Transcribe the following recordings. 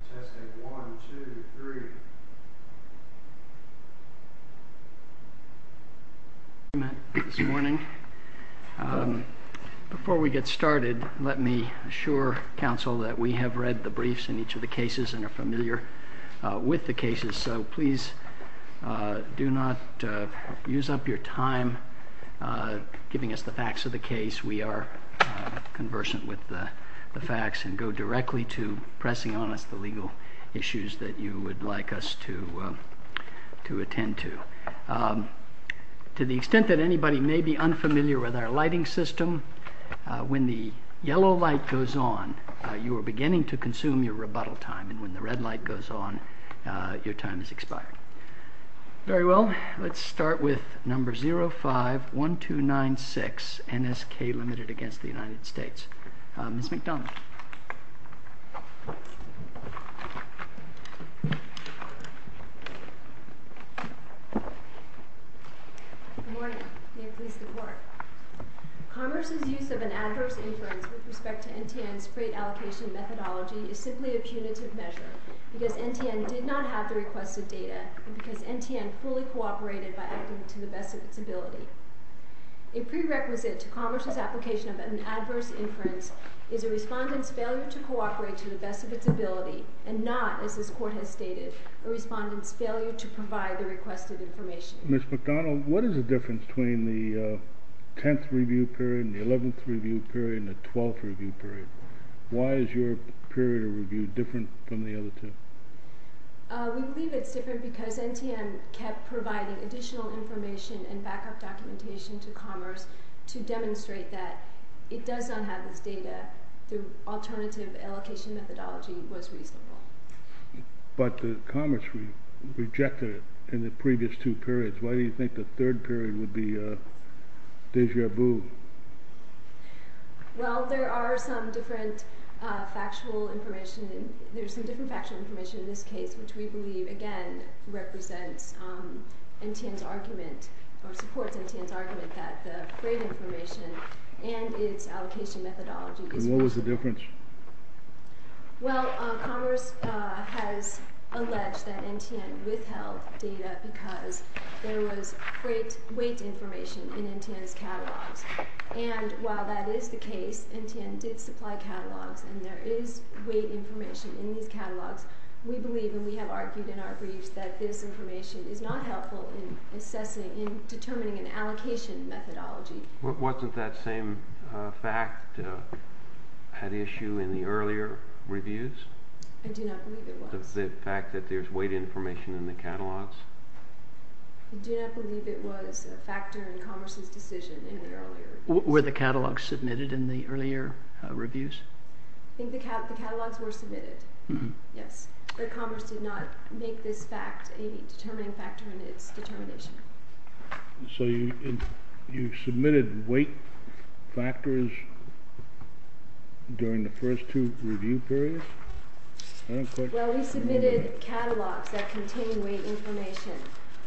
Testing 1, 2, 3. Good morning. Before we get started, let me assure counsel that we have read the briefs in each of the cases and are familiar with the cases. So please do not use up your time giving us the facts of the case. We are conversant with the facts and go directly to pressing on us the legal issues that you would like us to attend to. To the extent that anybody may be unfamiliar with our lighting system, when the yellow light goes on, you are beginning to consume your rebuttal time and when the red light goes on, your time is expired. Very well, let's start with number 051296 NSK LTD v. United States. Good morning. May it please the Court. Commerce's use of an adverse inference with respect to NTN's freight allocation methodology is simply a punitive measure because NTN did not have the requested data and because NTN fully cooperated by acting to the best of its ability. A prerequisite to Commerce's application of an adverse inference is a respondent's failure to cooperate to the best of its ability and not, as this Court has stated, a respondent's failure to provide the requested information. Ms. McDonald, what is the difference between the 10th review period and the 11th review period and the 12th review period? Why is your period of review different from the other two? We believe it's different because NTN kept providing additional information and backup documentation to Commerce to demonstrate that it does not have this data. The alternative allocation methodology was reasonable. But Commerce rejected it in the previous two periods. Why do you think the third period would be déjà vu? Well, there are some different factual information. There's some different factual information in this case, which we believe, again, represents NTN's argument or supports NTN's argument that the freight information and its allocation methodology is wrong. And what was the difference? Well, Commerce has alleged that NTN withheld data because there was freight weight information in NTN's catalogs. And while that is the case, NTN did supply catalogs and there is weight information in these catalogs. We believe, and we have argued in our briefs, that this information is not helpful in assessing, in determining an allocation methodology. Wasn't that same fact at issue in the earlier reviews? I do not believe it was. The fact that there's weight information in the catalogs? I do not believe it was a factor in Commerce's decision in the earlier reviews. Were the catalogs submitted in the earlier reviews? I think the catalogs were submitted, yes. But Commerce did not make this fact a determining factor in its determination. So you submitted weight factors during the first two review periods? Well, we submitted catalogs that contained weight information.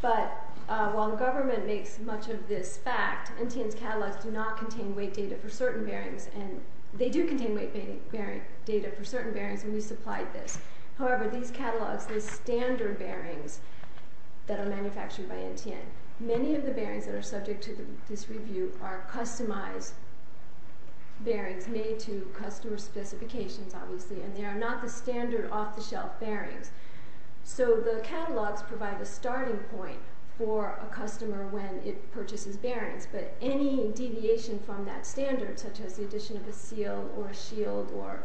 But while the government makes much of this fact, NTN's catalogs do not contain weight data for certain bearings. And they do contain weight bearing data for certain bearings when we supplied this. However, these catalogs, these standard bearings that are manufactured by NTN, many of the bearings that are subject to this review are customized bearings made to customer specifications, obviously. And they are not the standard off-the-shelf bearings. So the catalogs provide a starting point for a customer when it purchases bearings. But any deviation from that standard, such as the addition of a seal or a shield or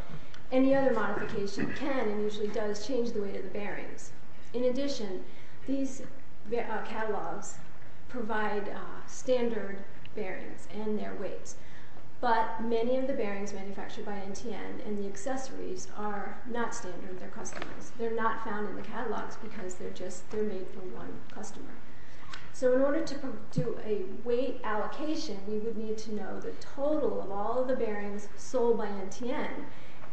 any other modification, can and usually does change the weight of the bearings. In addition, these catalogs provide standard bearings and their weights. But many of the bearings manufactured by NTN and the accessories are not standard. They're customized. They're not found in the catalogs because they're made for one customer. So in order to do a weight allocation, we would need to know the total of all of the bearings sold by NTN.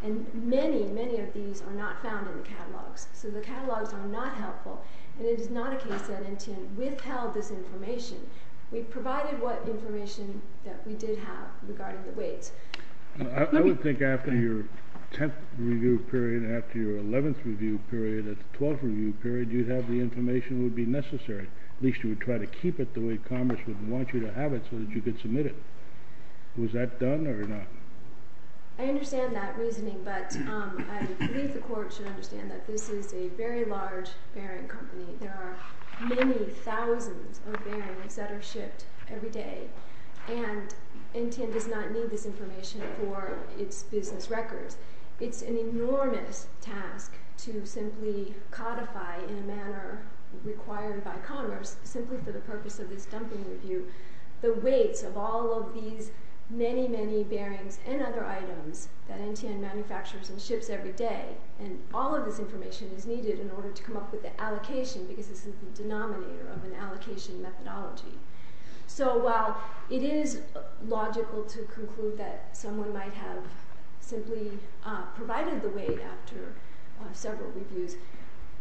And many, many of these are not found in the catalogs. So the catalogs are not helpful, and it is not a case that NTN withheld this information. We provided what information that we did have regarding the weights. I would think after your 10th review period, after your 11th review period, at the 12th review period, you'd have the information that would be necessary. At least you would try to keep it the way Congress would want you to have it so that you could submit it. Was that done or not? I understand that reasoning, but I believe the Court should understand that this is a very large bearing company. There are many thousands of bearings that are shipped every day. And NTN does not need this information for its business records. It's an enormous task to simply codify in a manner required by Congress, simply for the purpose of this dumping review, the weights of all of these many, many bearings and other items that NTN manufactures and ships every day. And all of this information is needed in order to come up with the allocation because this is the denominator of an allocation methodology. So while it is logical to conclude that someone might have simply provided the weight after several reviews,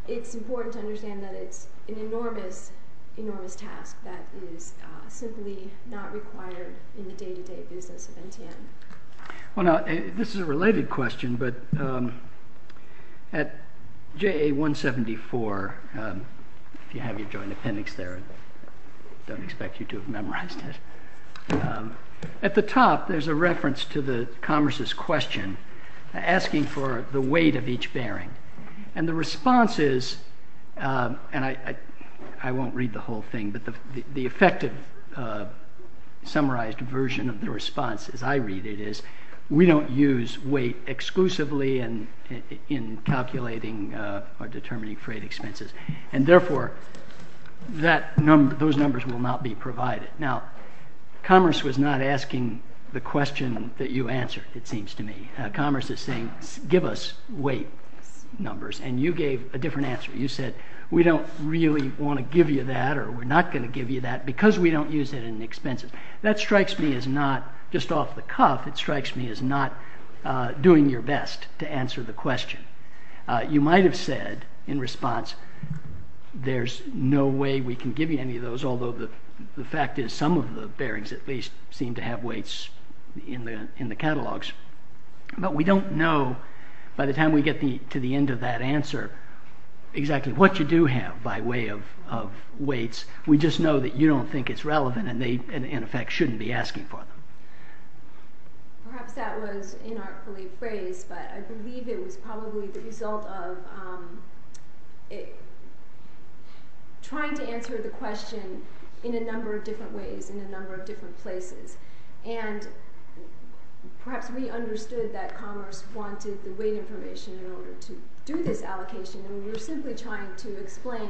it's important to understand that it's an enormous, enormous task that is simply not required in the day-to-day business of NTN. Well, now, this is a related question, but at JA 174, if you have your joint appendix there, I don't expect you to have memorized it. At the top, there's a reference to the Congress's question asking for the weight of each bearing. And the response is, and I won't read the whole thing, but the effective summarized version of the response as I read it is, we don't use weight exclusively in calculating or determining freight expenses. And therefore, those numbers will not be provided. Now, Commerce was not asking the question that you answered, it seems to me. Commerce is saying, give us weight numbers. And you gave a different answer. You said, we don't really want to give you that or we're not going to give you that because we don't use it in expenses. That strikes me as not just off the cuff, it strikes me as not doing your best to answer the question. You might have said in response, there's no way we can give you any of those, although the fact is some of the bearings at least seem to have weights in the catalogs. But we don't know, by the time we get to the end of that answer, exactly what you do have by way of weights. We just know that you don't think it's relevant and they, in effect, shouldn't be asking for them. Perhaps that was inartfully phrased, but I believe it was probably the result of trying to answer the question in a number of different ways, in a number of different places. And perhaps we understood that Commerce wanted the weight information in order to do this allocation and we were simply trying to explain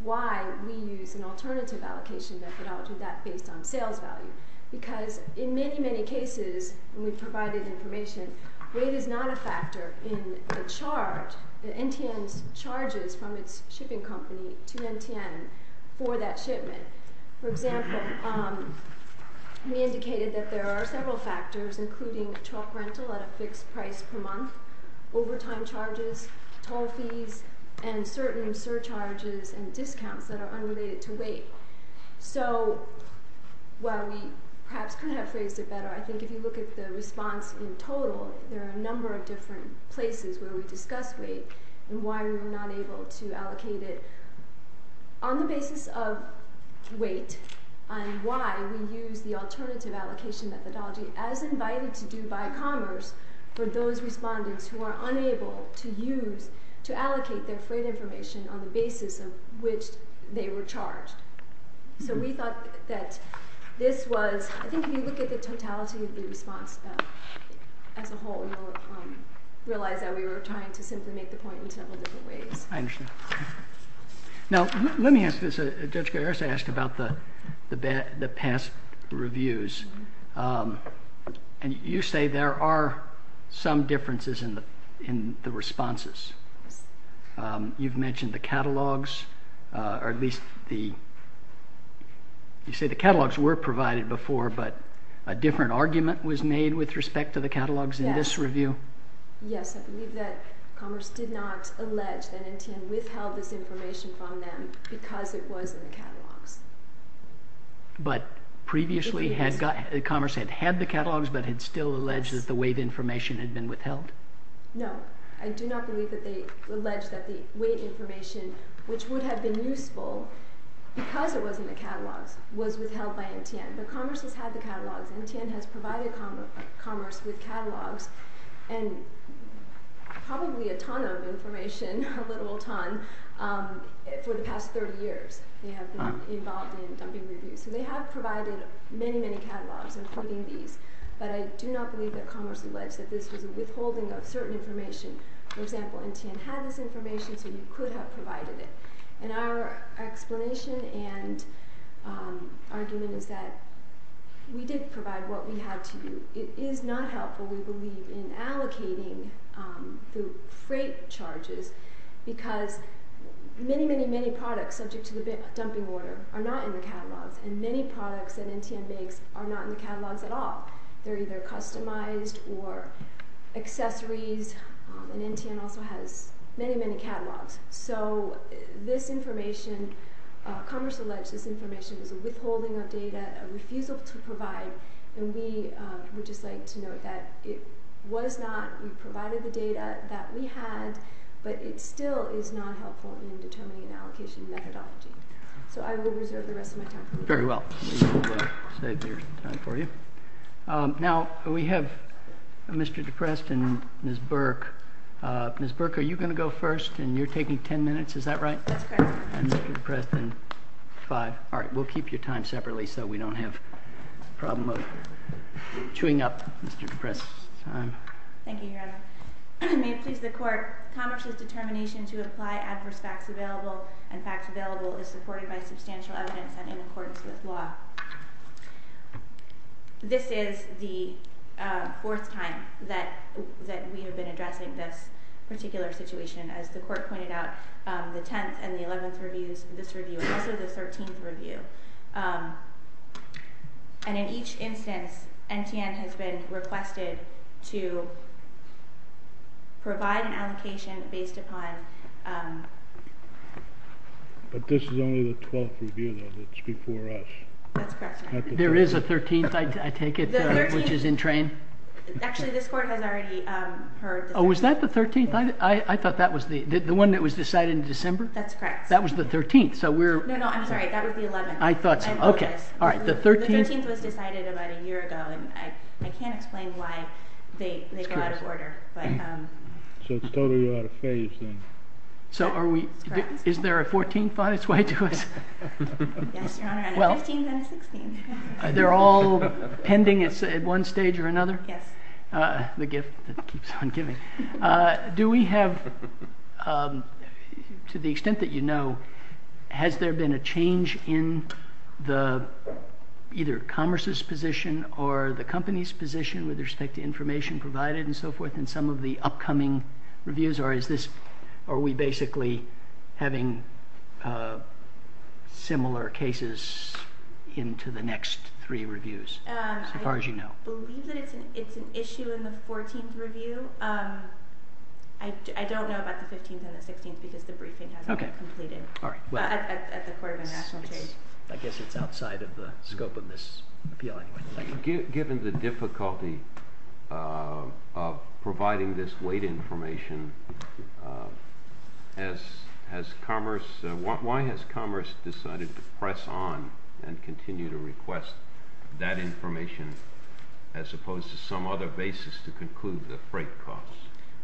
why we use an alternative allocation methodology based on sales value. Because in many, many cases, when we provided information, weight is not a factor in the charge, the NTN's charges from its shipping company to NTN for that shipment. For example, we indicated that there are several factors, including truck rental at a fixed price per month, overtime charges, toll fees, and certain surcharges and discounts that are unrelated to weight. So, while we perhaps could have phrased it better, I think if you look at the response in total, there are a number of different places where we discuss weight and why we were not able to allocate it on the basis of weight and why we use the alternative allocation methodology as invited to do by Commerce for those respondents who are unable to use, to allocate their freight information on the basis of which they were charged. So, we thought that this was, I think if you look at the totality of the response as a whole, you'll realize that we were trying to simply make the point in several different ways. I understand. Now, let me ask this. Judge Garis asked about the past reviews. And you say there are some differences in the responses. You've mentioned the catalogs, or at least the, you say the catalogs were provided before, but a different argument was made with respect to the catalogs in this review? Yes, I believe that Commerce did not allege that NTN withheld this information from them because it was in the catalogs. But previously, Commerce had had the catalogs, but had still alleged that the weight information had been withheld? No, I do not believe that they alleged that the weight information, which would have been useful because it was in the catalogs, was withheld by NTN. But Commerce has had the catalogs. NTN has provided Commerce with catalogs and probably a ton of information, a literal ton, for the past 30 years. They have been involved in dumping reviews. So, they have provided many, many catalogs, including these. But I do not believe that Commerce alleged that this was a withholding of certain information. For example, NTN had this information, so you could have provided it. And our explanation and argument is that we did provide what we had to do. It is not helpful, we believe, in allocating the freight charges because many, many, many products subject to the dumping order are not in the catalogs. And many products that NTN makes are not in the catalogs at all. They are either customized or accessories, and NTN also has many, many catalogs. So, this information, Commerce alleged this information is a withholding of data, a refusal to provide. And we would just like to note that it was not, we provided the data that we had, but it still is not helpful in determining an allocation methodology. So, I will reserve the rest of my time. Very well. We will save your time for you. Now, we have Mr. Deprest and Ms. Burke. Ms. Burke, are you going to go first, and you're taking 10 minutes, is that right? That's correct. And Mr. Deprest in five. All right, we'll keep your time separately so we don't have a problem of chewing up Mr. Deprest's time. Thank you, Your Honor. Your Honor, may it please the Court, Commerce's determination to apply adverse facts available and facts available is supported by substantial evidence and in accordance with law. This is the fourth time that we have been addressing this particular situation. As the Court pointed out, the 10th and the 11th reviews, this review, and also the 13th review. And in each instance, NTN has been requested to provide an allocation based upon... But this is only the 12th review, though, that's before us. That's correct, Your Honor. There is a 13th, I take it, which is in train? Actually, this Court has already heard... Oh, was that the 13th? I thought that was the one that was decided in December. That's correct. That was the 13th, so we're... No, no, I'm sorry, that was the 11th. I apologize. The 13th was decided about a year ago, and I can't explain why they go out of order. So it's totally out of phase, then. Is there a 14th on its way to us? Yes, Your Honor, and a 15th and a 16th. They're all pending at one stage or another? Yes. The gift that keeps on giving. Do we have... To the extent that you know, has there been a change in either the Commerce's position or the Company's position with respect to information provided and so forth in some of the upcoming reviews? Or are we basically having similar cases into the next three reviews, as far as you know? I believe that it's an issue in the 14th review. I don't know about the 15th and the 16th because the briefing hasn't been completed at the Court of International Trade. I guess it's outside of the scope of this appeal, anyway. Given the difficulty of providing this weight information, why has Commerce decided to press on and continue to request that information as opposed to some other basis to conclude the freight costs?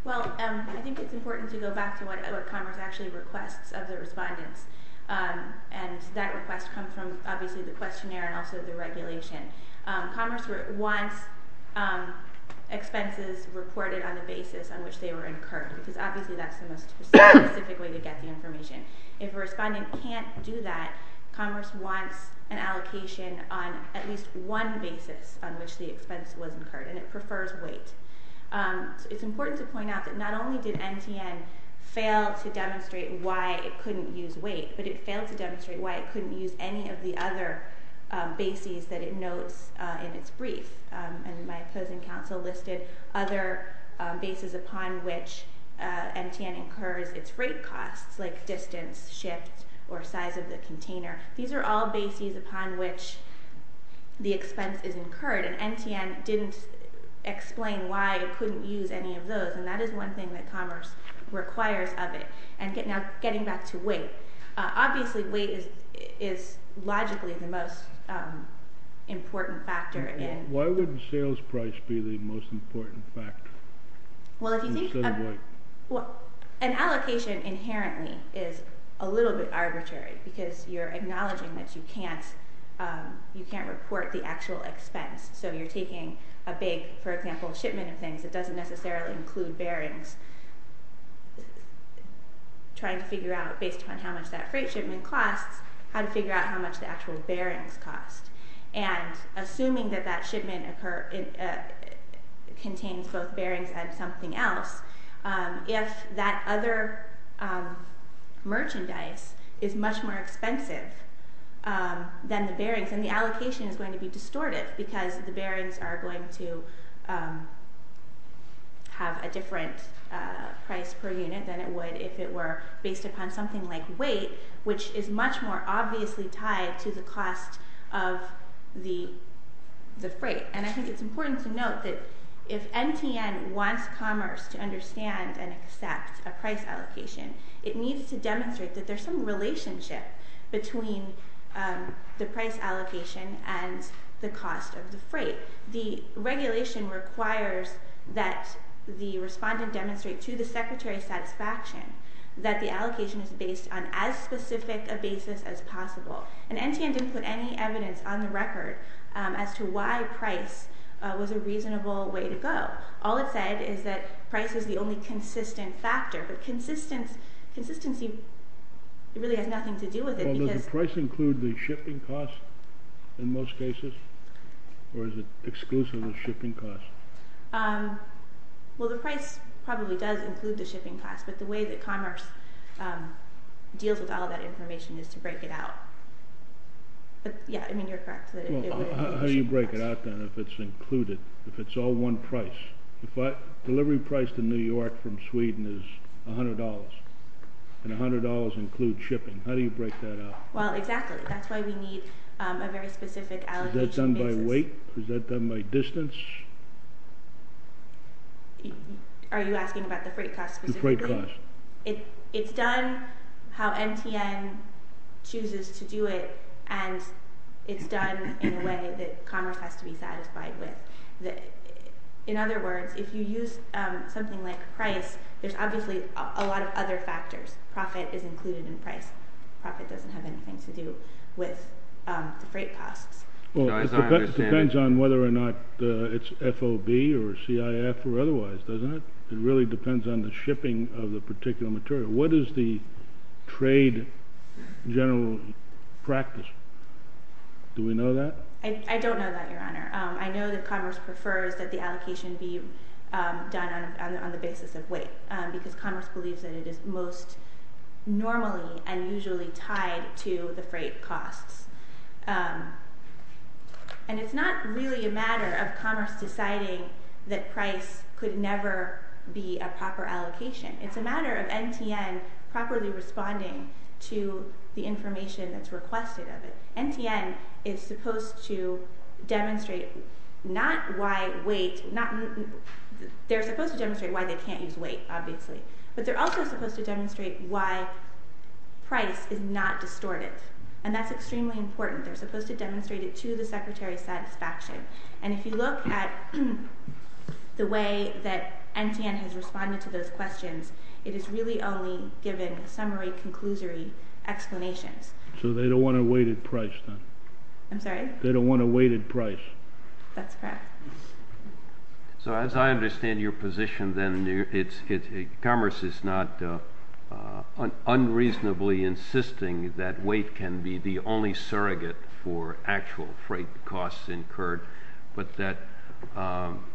Well, I think it's important to go back to what Commerce actually requests of the respondents. And that request comes from, obviously, the questionnaire and also the regulation. Commerce wants expenses reported on the basis on which they were incurred. Because, obviously, that's the most specific way to get the information. If a respondent can't do that, Commerce wants an allocation on at least one basis on which the expense was incurred, and it prefers weight. It's important to point out that not only did MTN fail to demonstrate why it couldn't use weight, but it failed to demonstrate why it couldn't use any of the other bases that it notes in its brief. And my opposing counsel listed other bases upon which MTN incurs its freight costs, like distance, shift, or size of the container. These are all bases upon which the expense is incurred. And MTN didn't explain why it couldn't use any of those. And that is one thing that Commerce requires of it. And now getting back to weight. Obviously, weight is logically the most important factor. Why would sales price be the most important factor? Well, an allocation inherently is a little bit arbitrary, because you're acknowledging that you can't report the actual expense. So you're taking a big, for example, shipment of things. It doesn't necessarily include bearings. Trying to figure out, based upon how much that freight shipment costs, how to figure out how much the actual bearings cost. And assuming that that shipment contains both bearings and something else, if that other merchandise is much more expensive than the bearings, then the allocation is going to be distorted, because the bearings are going to have a different price per unit than it would if it were based upon something like weight, which is much more obviously tied to the cost of the freight. And I think it's important to note that if MTN wants Commerce to understand and accept a price allocation, it needs to demonstrate that there's some relationship between the price allocation and the cost of the freight. The regulation requires that the respondent demonstrate to the Secretary of Satisfaction that the allocation is based on as specific a basis as possible. And MTN didn't put any evidence on the record as to why price was a reasonable way to go. All it said is that price is the only consistent factor. But consistency really has nothing to do with it. Well, does the price include the shipping cost in most cases? Or is it exclusive of shipping cost? Well, the price probably does include the shipping cost, but the way that Commerce deals with all that information is to break it out. But, yeah, I mean, you're correct. Well, how do you break it out, then, if it's included? If it's all one price? Delivery price to New York from Sweden is $100. And $100 includes shipping. How do you break that out? Well, exactly. That's why we need a very specific allocation basis. Is that done by weight? Is that done by distance? Are you asking about the freight cost specifically? It's done how MTN chooses to do it, and it's done in a way that Commerce has to be satisfied with. In other words, if you use something like price, there's obviously a lot of other factors. Profit is included in price. Profit doesn't have anything to do with the freight costs. Well, it depends on whether or not it's FOB or CIF or otherwise, doesn't it? It really depends on the shipping of the particular material. What is the trade general practice? Do we know that? I don't know that, Your Honor. I know that Commerce prefers that the allocation be done on the basis of weight because Commerce believes that it is most normally and usually tied to the freight costs. And it's not really a matter of Commerce deciding that price could never be a proper allocation. It's a matter of MTN properly responding to the information that's requested of it. MTN is supposed to demonstrate not why weight... They're supposed to demonstrate why they can't use weight, obviously. But they're also supposed to demonstrate why price is not distorted. And that's extremely important. They're supposed to demonstrate it to the Secretary's satisfaction. And if you look at the way that MTN has responded to those questions, it has really only given summary, conclusory explanations. So they don't want a weighted price, then? I'm sorry? They don't want a weighted price. That's correct. So as I understand your position, then Commerce is not unreasonably insisting that weight can be the only surrogate for actual freight costs incurred, but that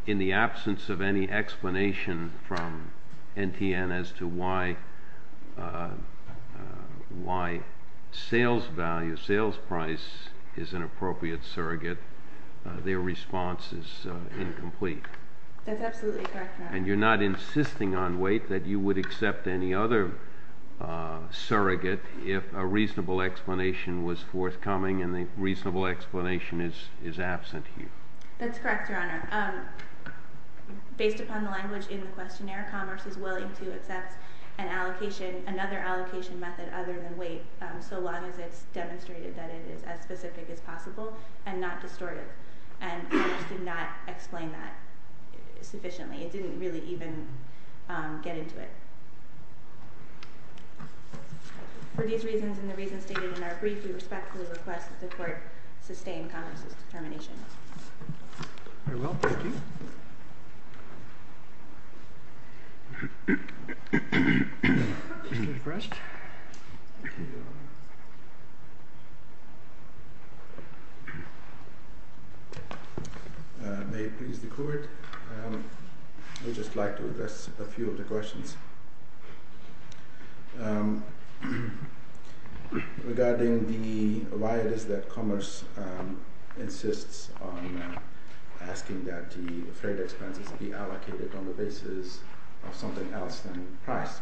in the absence of any explanation from MTN as to why sales value, sales price is an appropriate surrogate, their response is incomplete. They're not insisting on weight that you would accept any other surrogate if a reasonable explanation was forthcoming and the reasonable explanation is absent here. That's correct, Your Honor. Based upon the language in the questionnaire, Commerce is willing to accept another allocation method other than weight so long as it's demonstrated that it is as specific as possible and not distorted. And Commerce did not explain that sufficiently. So we can get into it. For these reasons and the reasons stated in our brief, we respectfully request that the Court sustain Commerce's determination. Very well. Thank you. May it please the Court. I would just like to address a few of the questions. Regarding why it is that Commerce insists on asking that the freight expenses be allocated on the basis of something else than price.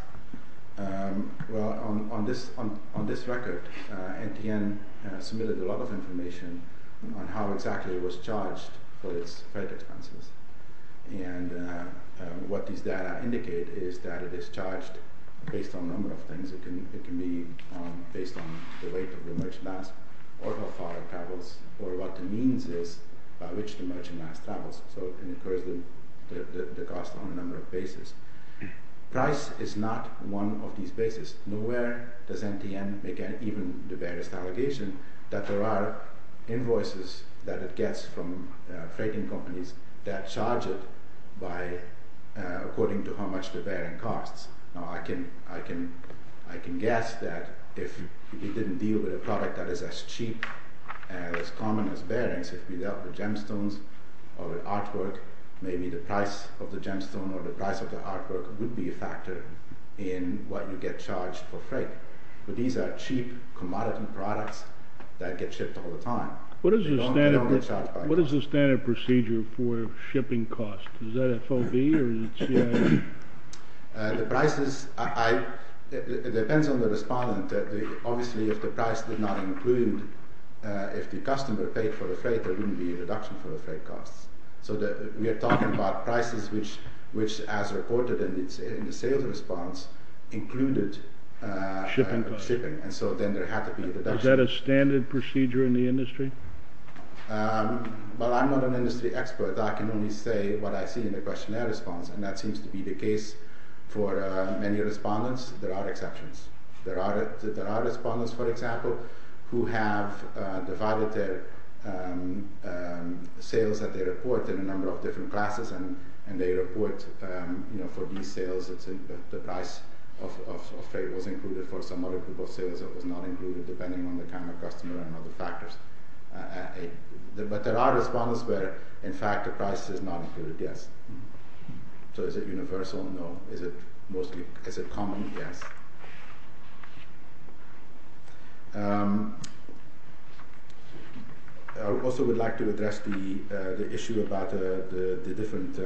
Well, on this record, MTN submitted a lot of information on how exactly it was charged for its freight expenses. And what these data indicate is that it is charged based on a number of things. It can be based on the weight of the merchandise or how far it travels or what the means is by which the merchandise travels. So it incurs the cost on a number of bases. Price is not one of these bases. Nowhere does MTN make even the barest allegation that there are invoices that it gets from freighting companies that charge it according to how much the bearing costs. Now I can guess that if we didn't deal with a product that is as cheap and as common as bearings, if we dealt with gemstones or artwork, maybe the price of the gemstone or the price of the artwork would be a factor in what you get charged for freight. But these are cheap, commodity products that get shipped all the time. What is the standard procedure for shipping costs? Is that FOB or is it CIO? The prices, it depends on the respondent. Obviously if the price did not include, if the customer paid for the freight, there wouldn't be a reduction for the freight costs. So we are talking about prices which, as reported in the sales response, included shipping. And so then there had to be a reduction. Is that a standard procedure in the industry? Well, I'm not an industry expert. I can only say what I see in the questionnaire response. And that seems to be the case for many respondents. There are exceptions. There are respondents, for example, who have divided their sales that they report in a number of different classes. And they report for these sales that the price of freight was included for some other group of sales that was not included, depending on the kind of customer and other factors. But there are respondents where, in fact, the price is not included, yes. So is it universal? No. Is it common? Yes. I also would like to address the issue about the different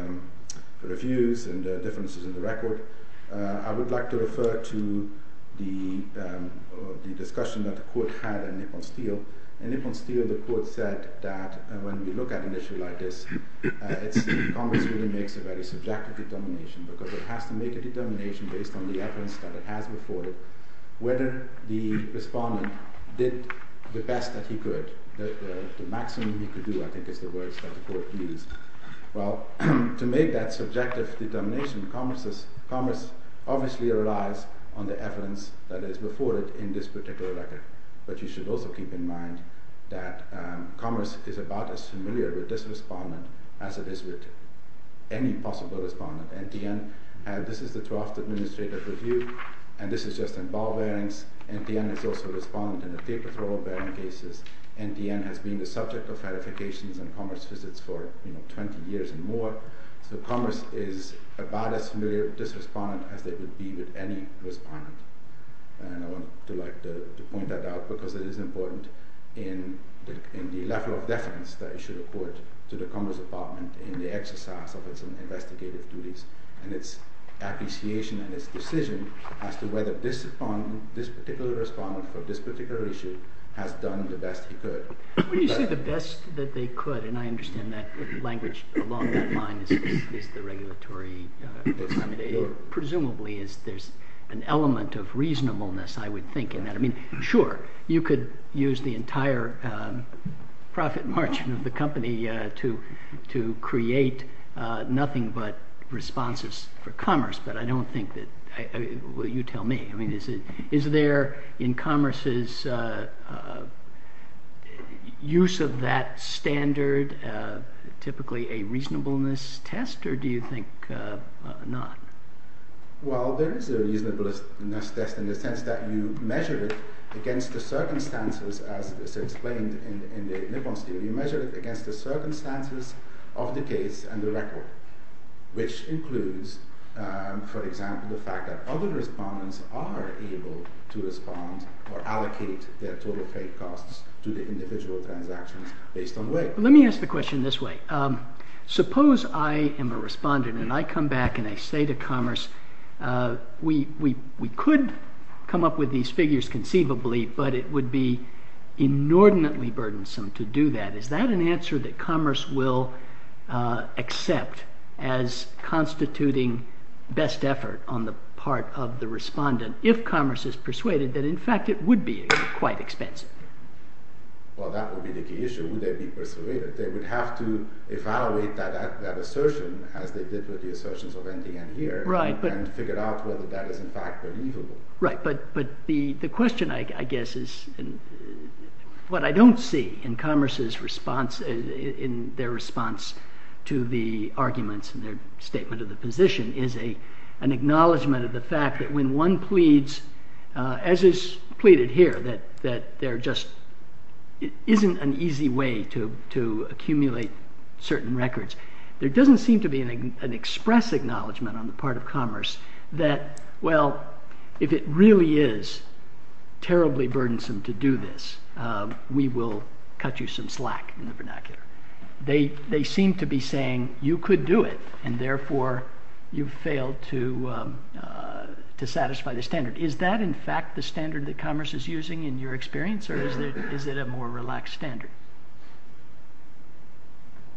reviews and differences in the record. I would like to refer to the discussion that the Court had in Nippon Steel. In Nippon Steel, the Court said that when we look at an issue like this, Congress really makes a very subjective determination, because it has to make a determination based on the evidence that it has before it, whether the respondent did the best that he could. The maximum he could do, I think, is the words that the Court used. Well, to make that subjective determination, Congress obviously relies on the evidence that is before it in this particular record. But you should also keep in mind that Congress is about as familiar with this respondent as it is with any possible respondent. NTN, this is the draft administrative review, and this is just in ball bearings. NTN has also responded in the taper-throw bearing cases. NTN has been the subject of verifications and Congress visits for 20 years and more. So Congress is about as familiar with this respondent as it would be with any respondent. And I wanted to point that out, because it is important in the level of defense that it should afford to the Commerce Department in the exercise of its investigative duties and its appreciation and its decision as to whether this particular respondent for this particular issue has done the best he could. When you say the best that they could, and I understand that language along that line is the regulatory, presumably there's an element of reasonableness, I would think, in that. I mean, sure, you could use the entire profit margin of the company to create nothing but responses for commerce, but I don't think that, well, you tell me. I mean, is there in commerce's use of that standard typically a reasonableness test, or do you think not? Well, there is a reasonableness test in the sense that you measure it against the circumstances, as is explained in the Nippon's theory, you measure it against the circumstances of the case and the record, which includes, for example, the fact that other respondents are able to respond or allocate their total paid costs to the individual transactions based on weight. Let me ask the question this way. Suppose I am a respondent and I come back and I say to commerce, we could come up with these figures conceivably, but it would be inordinately burdensome to do that. Is that an answer that commerce will accept as constituting best effort on the part of the respondent if commerce is persuaded that, in fact, it would be quite expensive? Well, that would be the key issue. Would they be persuaded? They would have to evaluate that assertion as they did with the assertions of ending end here and figure out whether that is, in fact, believable. Right, but the question, I guess, is what I don't see in commerce's response, in their response to the arguments in their statement of the position is an acknowledgment of the fact that when one pleads, as is pleaded here, that there just isn't an easy way to accumulate certain records. There doesn't seem to be an express acknowledgment on the part of commerce that, well, if it really is terribly burdensome to do this, we will cut you some slack in the vernacular. They seem to be saying you could do it and therefore you failed to satisfy the standard. Is that, in fact, the standard that commerce is using in your experience or is it a more relaxed standard?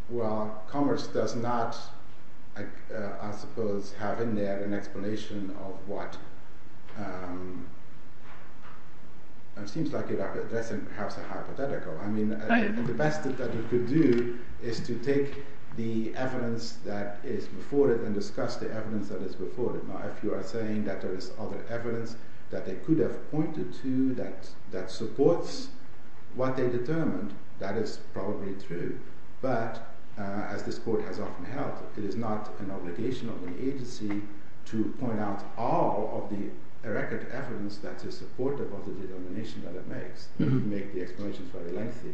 Well, commerce does not, I suppose, have in there an explanation of what, it seems like you are addressing perhaps a hypothetical. I mean, the best that you could do is to take the evidence that is before it and discuss the evidence that is before it. Now, if you are saying that there is other evidence that they could have pointed to that supports what they determined, that is probably true. But, as this court has often held, it is not an obligation of an agency to point out all of the record evidence that is supportive of the determination that it makes. It would make the explanations very lengthy.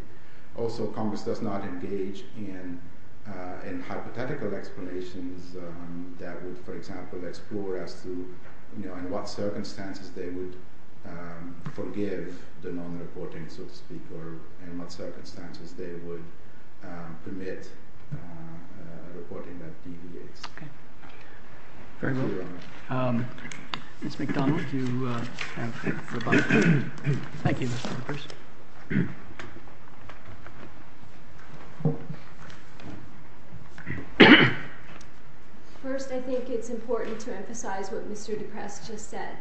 Also, commerce does not engage in hypothetical explanations that would, for example, explore as to in what circumstances they would forgive the non-reporting, so to speak, or in what circumstances they would permit reporting that deviates. Very well. Ms. MacDonald, you have the floor. First, I think it is important to emphasize what Mr. DePrest just said.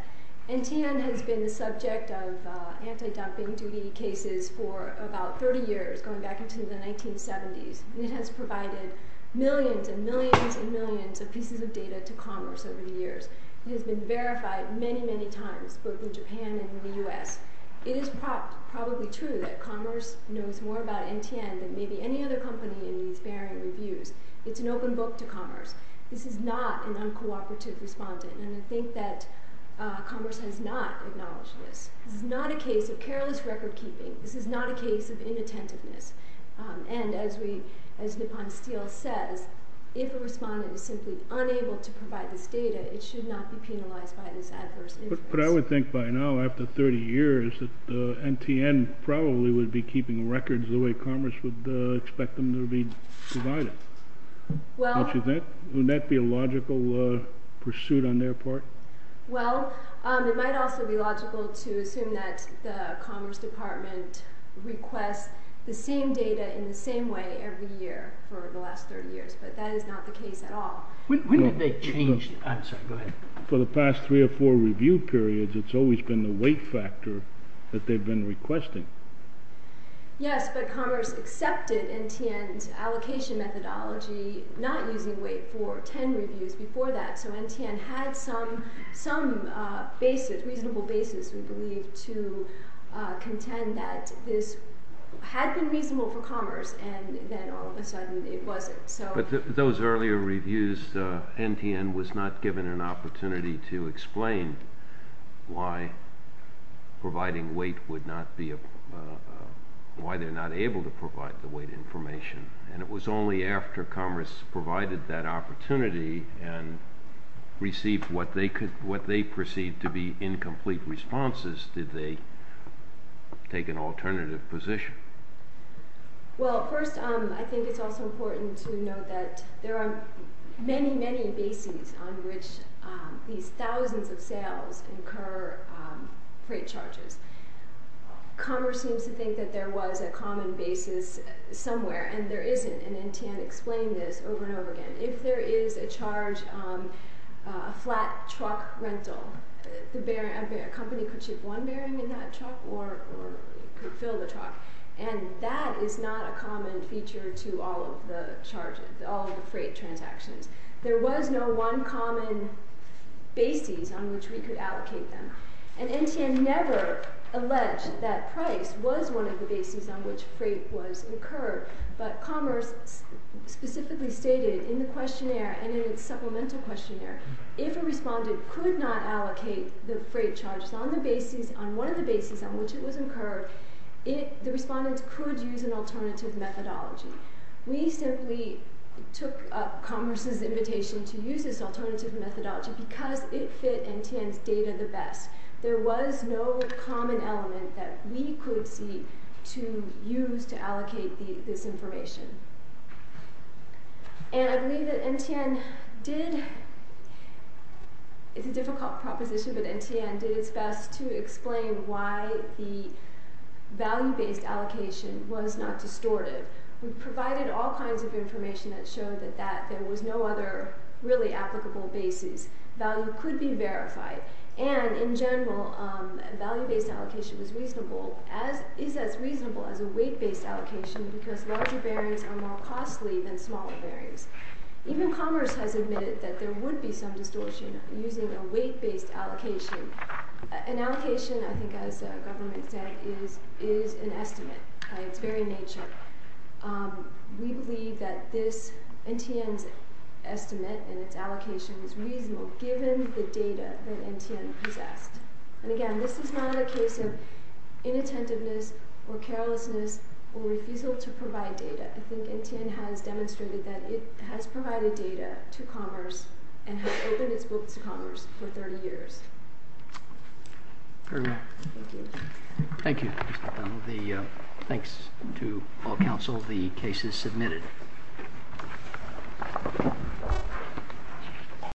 NTN has been the subject of anti-dumping duty cases for about 30 years, going back into the 1970s. It has provided millions and millions and millions of pieces of data to commerce over the years. It has been verified many, many times, both in Japan and in the U.S. It is probably true that commerce knows more about NTN than maybe any other company in these varying reviews. It is an open book to commerce. This is not an uncooperative respondent. And I think that commerce has not acknowledged this. This is not a case of careless record-keeping. This is not a case of inattentiveness. And as Nippon Steel says, if a respondent is simply unable to provide this data, it should not be penalized by this adverse inference. But I would think by now, after 30 years, that NTN probably would be keeping records the way commerce would expect them to be provided. Wouldn't that be a logical pursuit on their part? Well, it might also be logical to assume that the commerce department requests the same data in the same way every year for the last 30 years. But that is not the case at all. When did they change? I'm sorry, go ahead. For the past three or four review periods, it's always been the weight factor that they've been requesting. Yes, but commerce accepted NTN's allocation methodology, not using weight for 10 reviews before that. So NTN had some reasonable basis, we believe, to contend that this had been reasonable for commerce, and then all of a sudden it wasn't. But those earlier reviews, NTN was not given an opportunity to explain why providing weight would not be, why they're not able to provide the weight information. And it was only after commerce provided that opportunity and received what they perceived to be incomplete responses did they take an alternative position. Well, first, I think it's also important to note that there are many, many bases on which these thousands of sales incur freight charges. Commerce seems to think that there was a common basis somewhere, and there isn't, and NTN explained this over and over again. If there is a charge on a flat truck rental, a company could ship one bearing in that truck or it could fill the truck. And that is not a common feature to all of the freight transactions. There was no one common basis on which we could allocate them. And NTN never alleged that price was one of the bases on which freight was incurred. But commerce specifically stated in the questionnaire and in its supplemental questionnaire, if a respondent could not allocate the freight charges on one of the bases on which it was incurred, the respondent could use an alternative methodology. We simply took up commerce's invitation to use this alternative methodology because it fit NTN's data the best. There was no common element that we could see to use to allocate this information. And I believe that NTN did, it's a difficult proposition, but NTN did its best to explain why the value-based allocation was not distortive. It provided all kinds of information that showed that there was no other really applicable bases. Value could be verified. And in general, value-based allocation was reasonable, is as reasonable as a weight-based allocation because larger bearings are more costly than smaller bearings. Even commerce has admitted that there would be some distortion using a weight-based allocation. An allocation, I think as government said, is an estimate by its very nature. We believe that this NTN's estimate and its allocation is reasonable given the data that NTN possessed. And again, this is not a case of inattentiveness or carelessness or refusal to provide data. I think NTN has demonstrated that it has provided data to commerce and has opened its books to commerce for 30 years. Very well. Thank you. Thank you, Mr. O'Donnell. Thanks to all counsel. The case is submitted.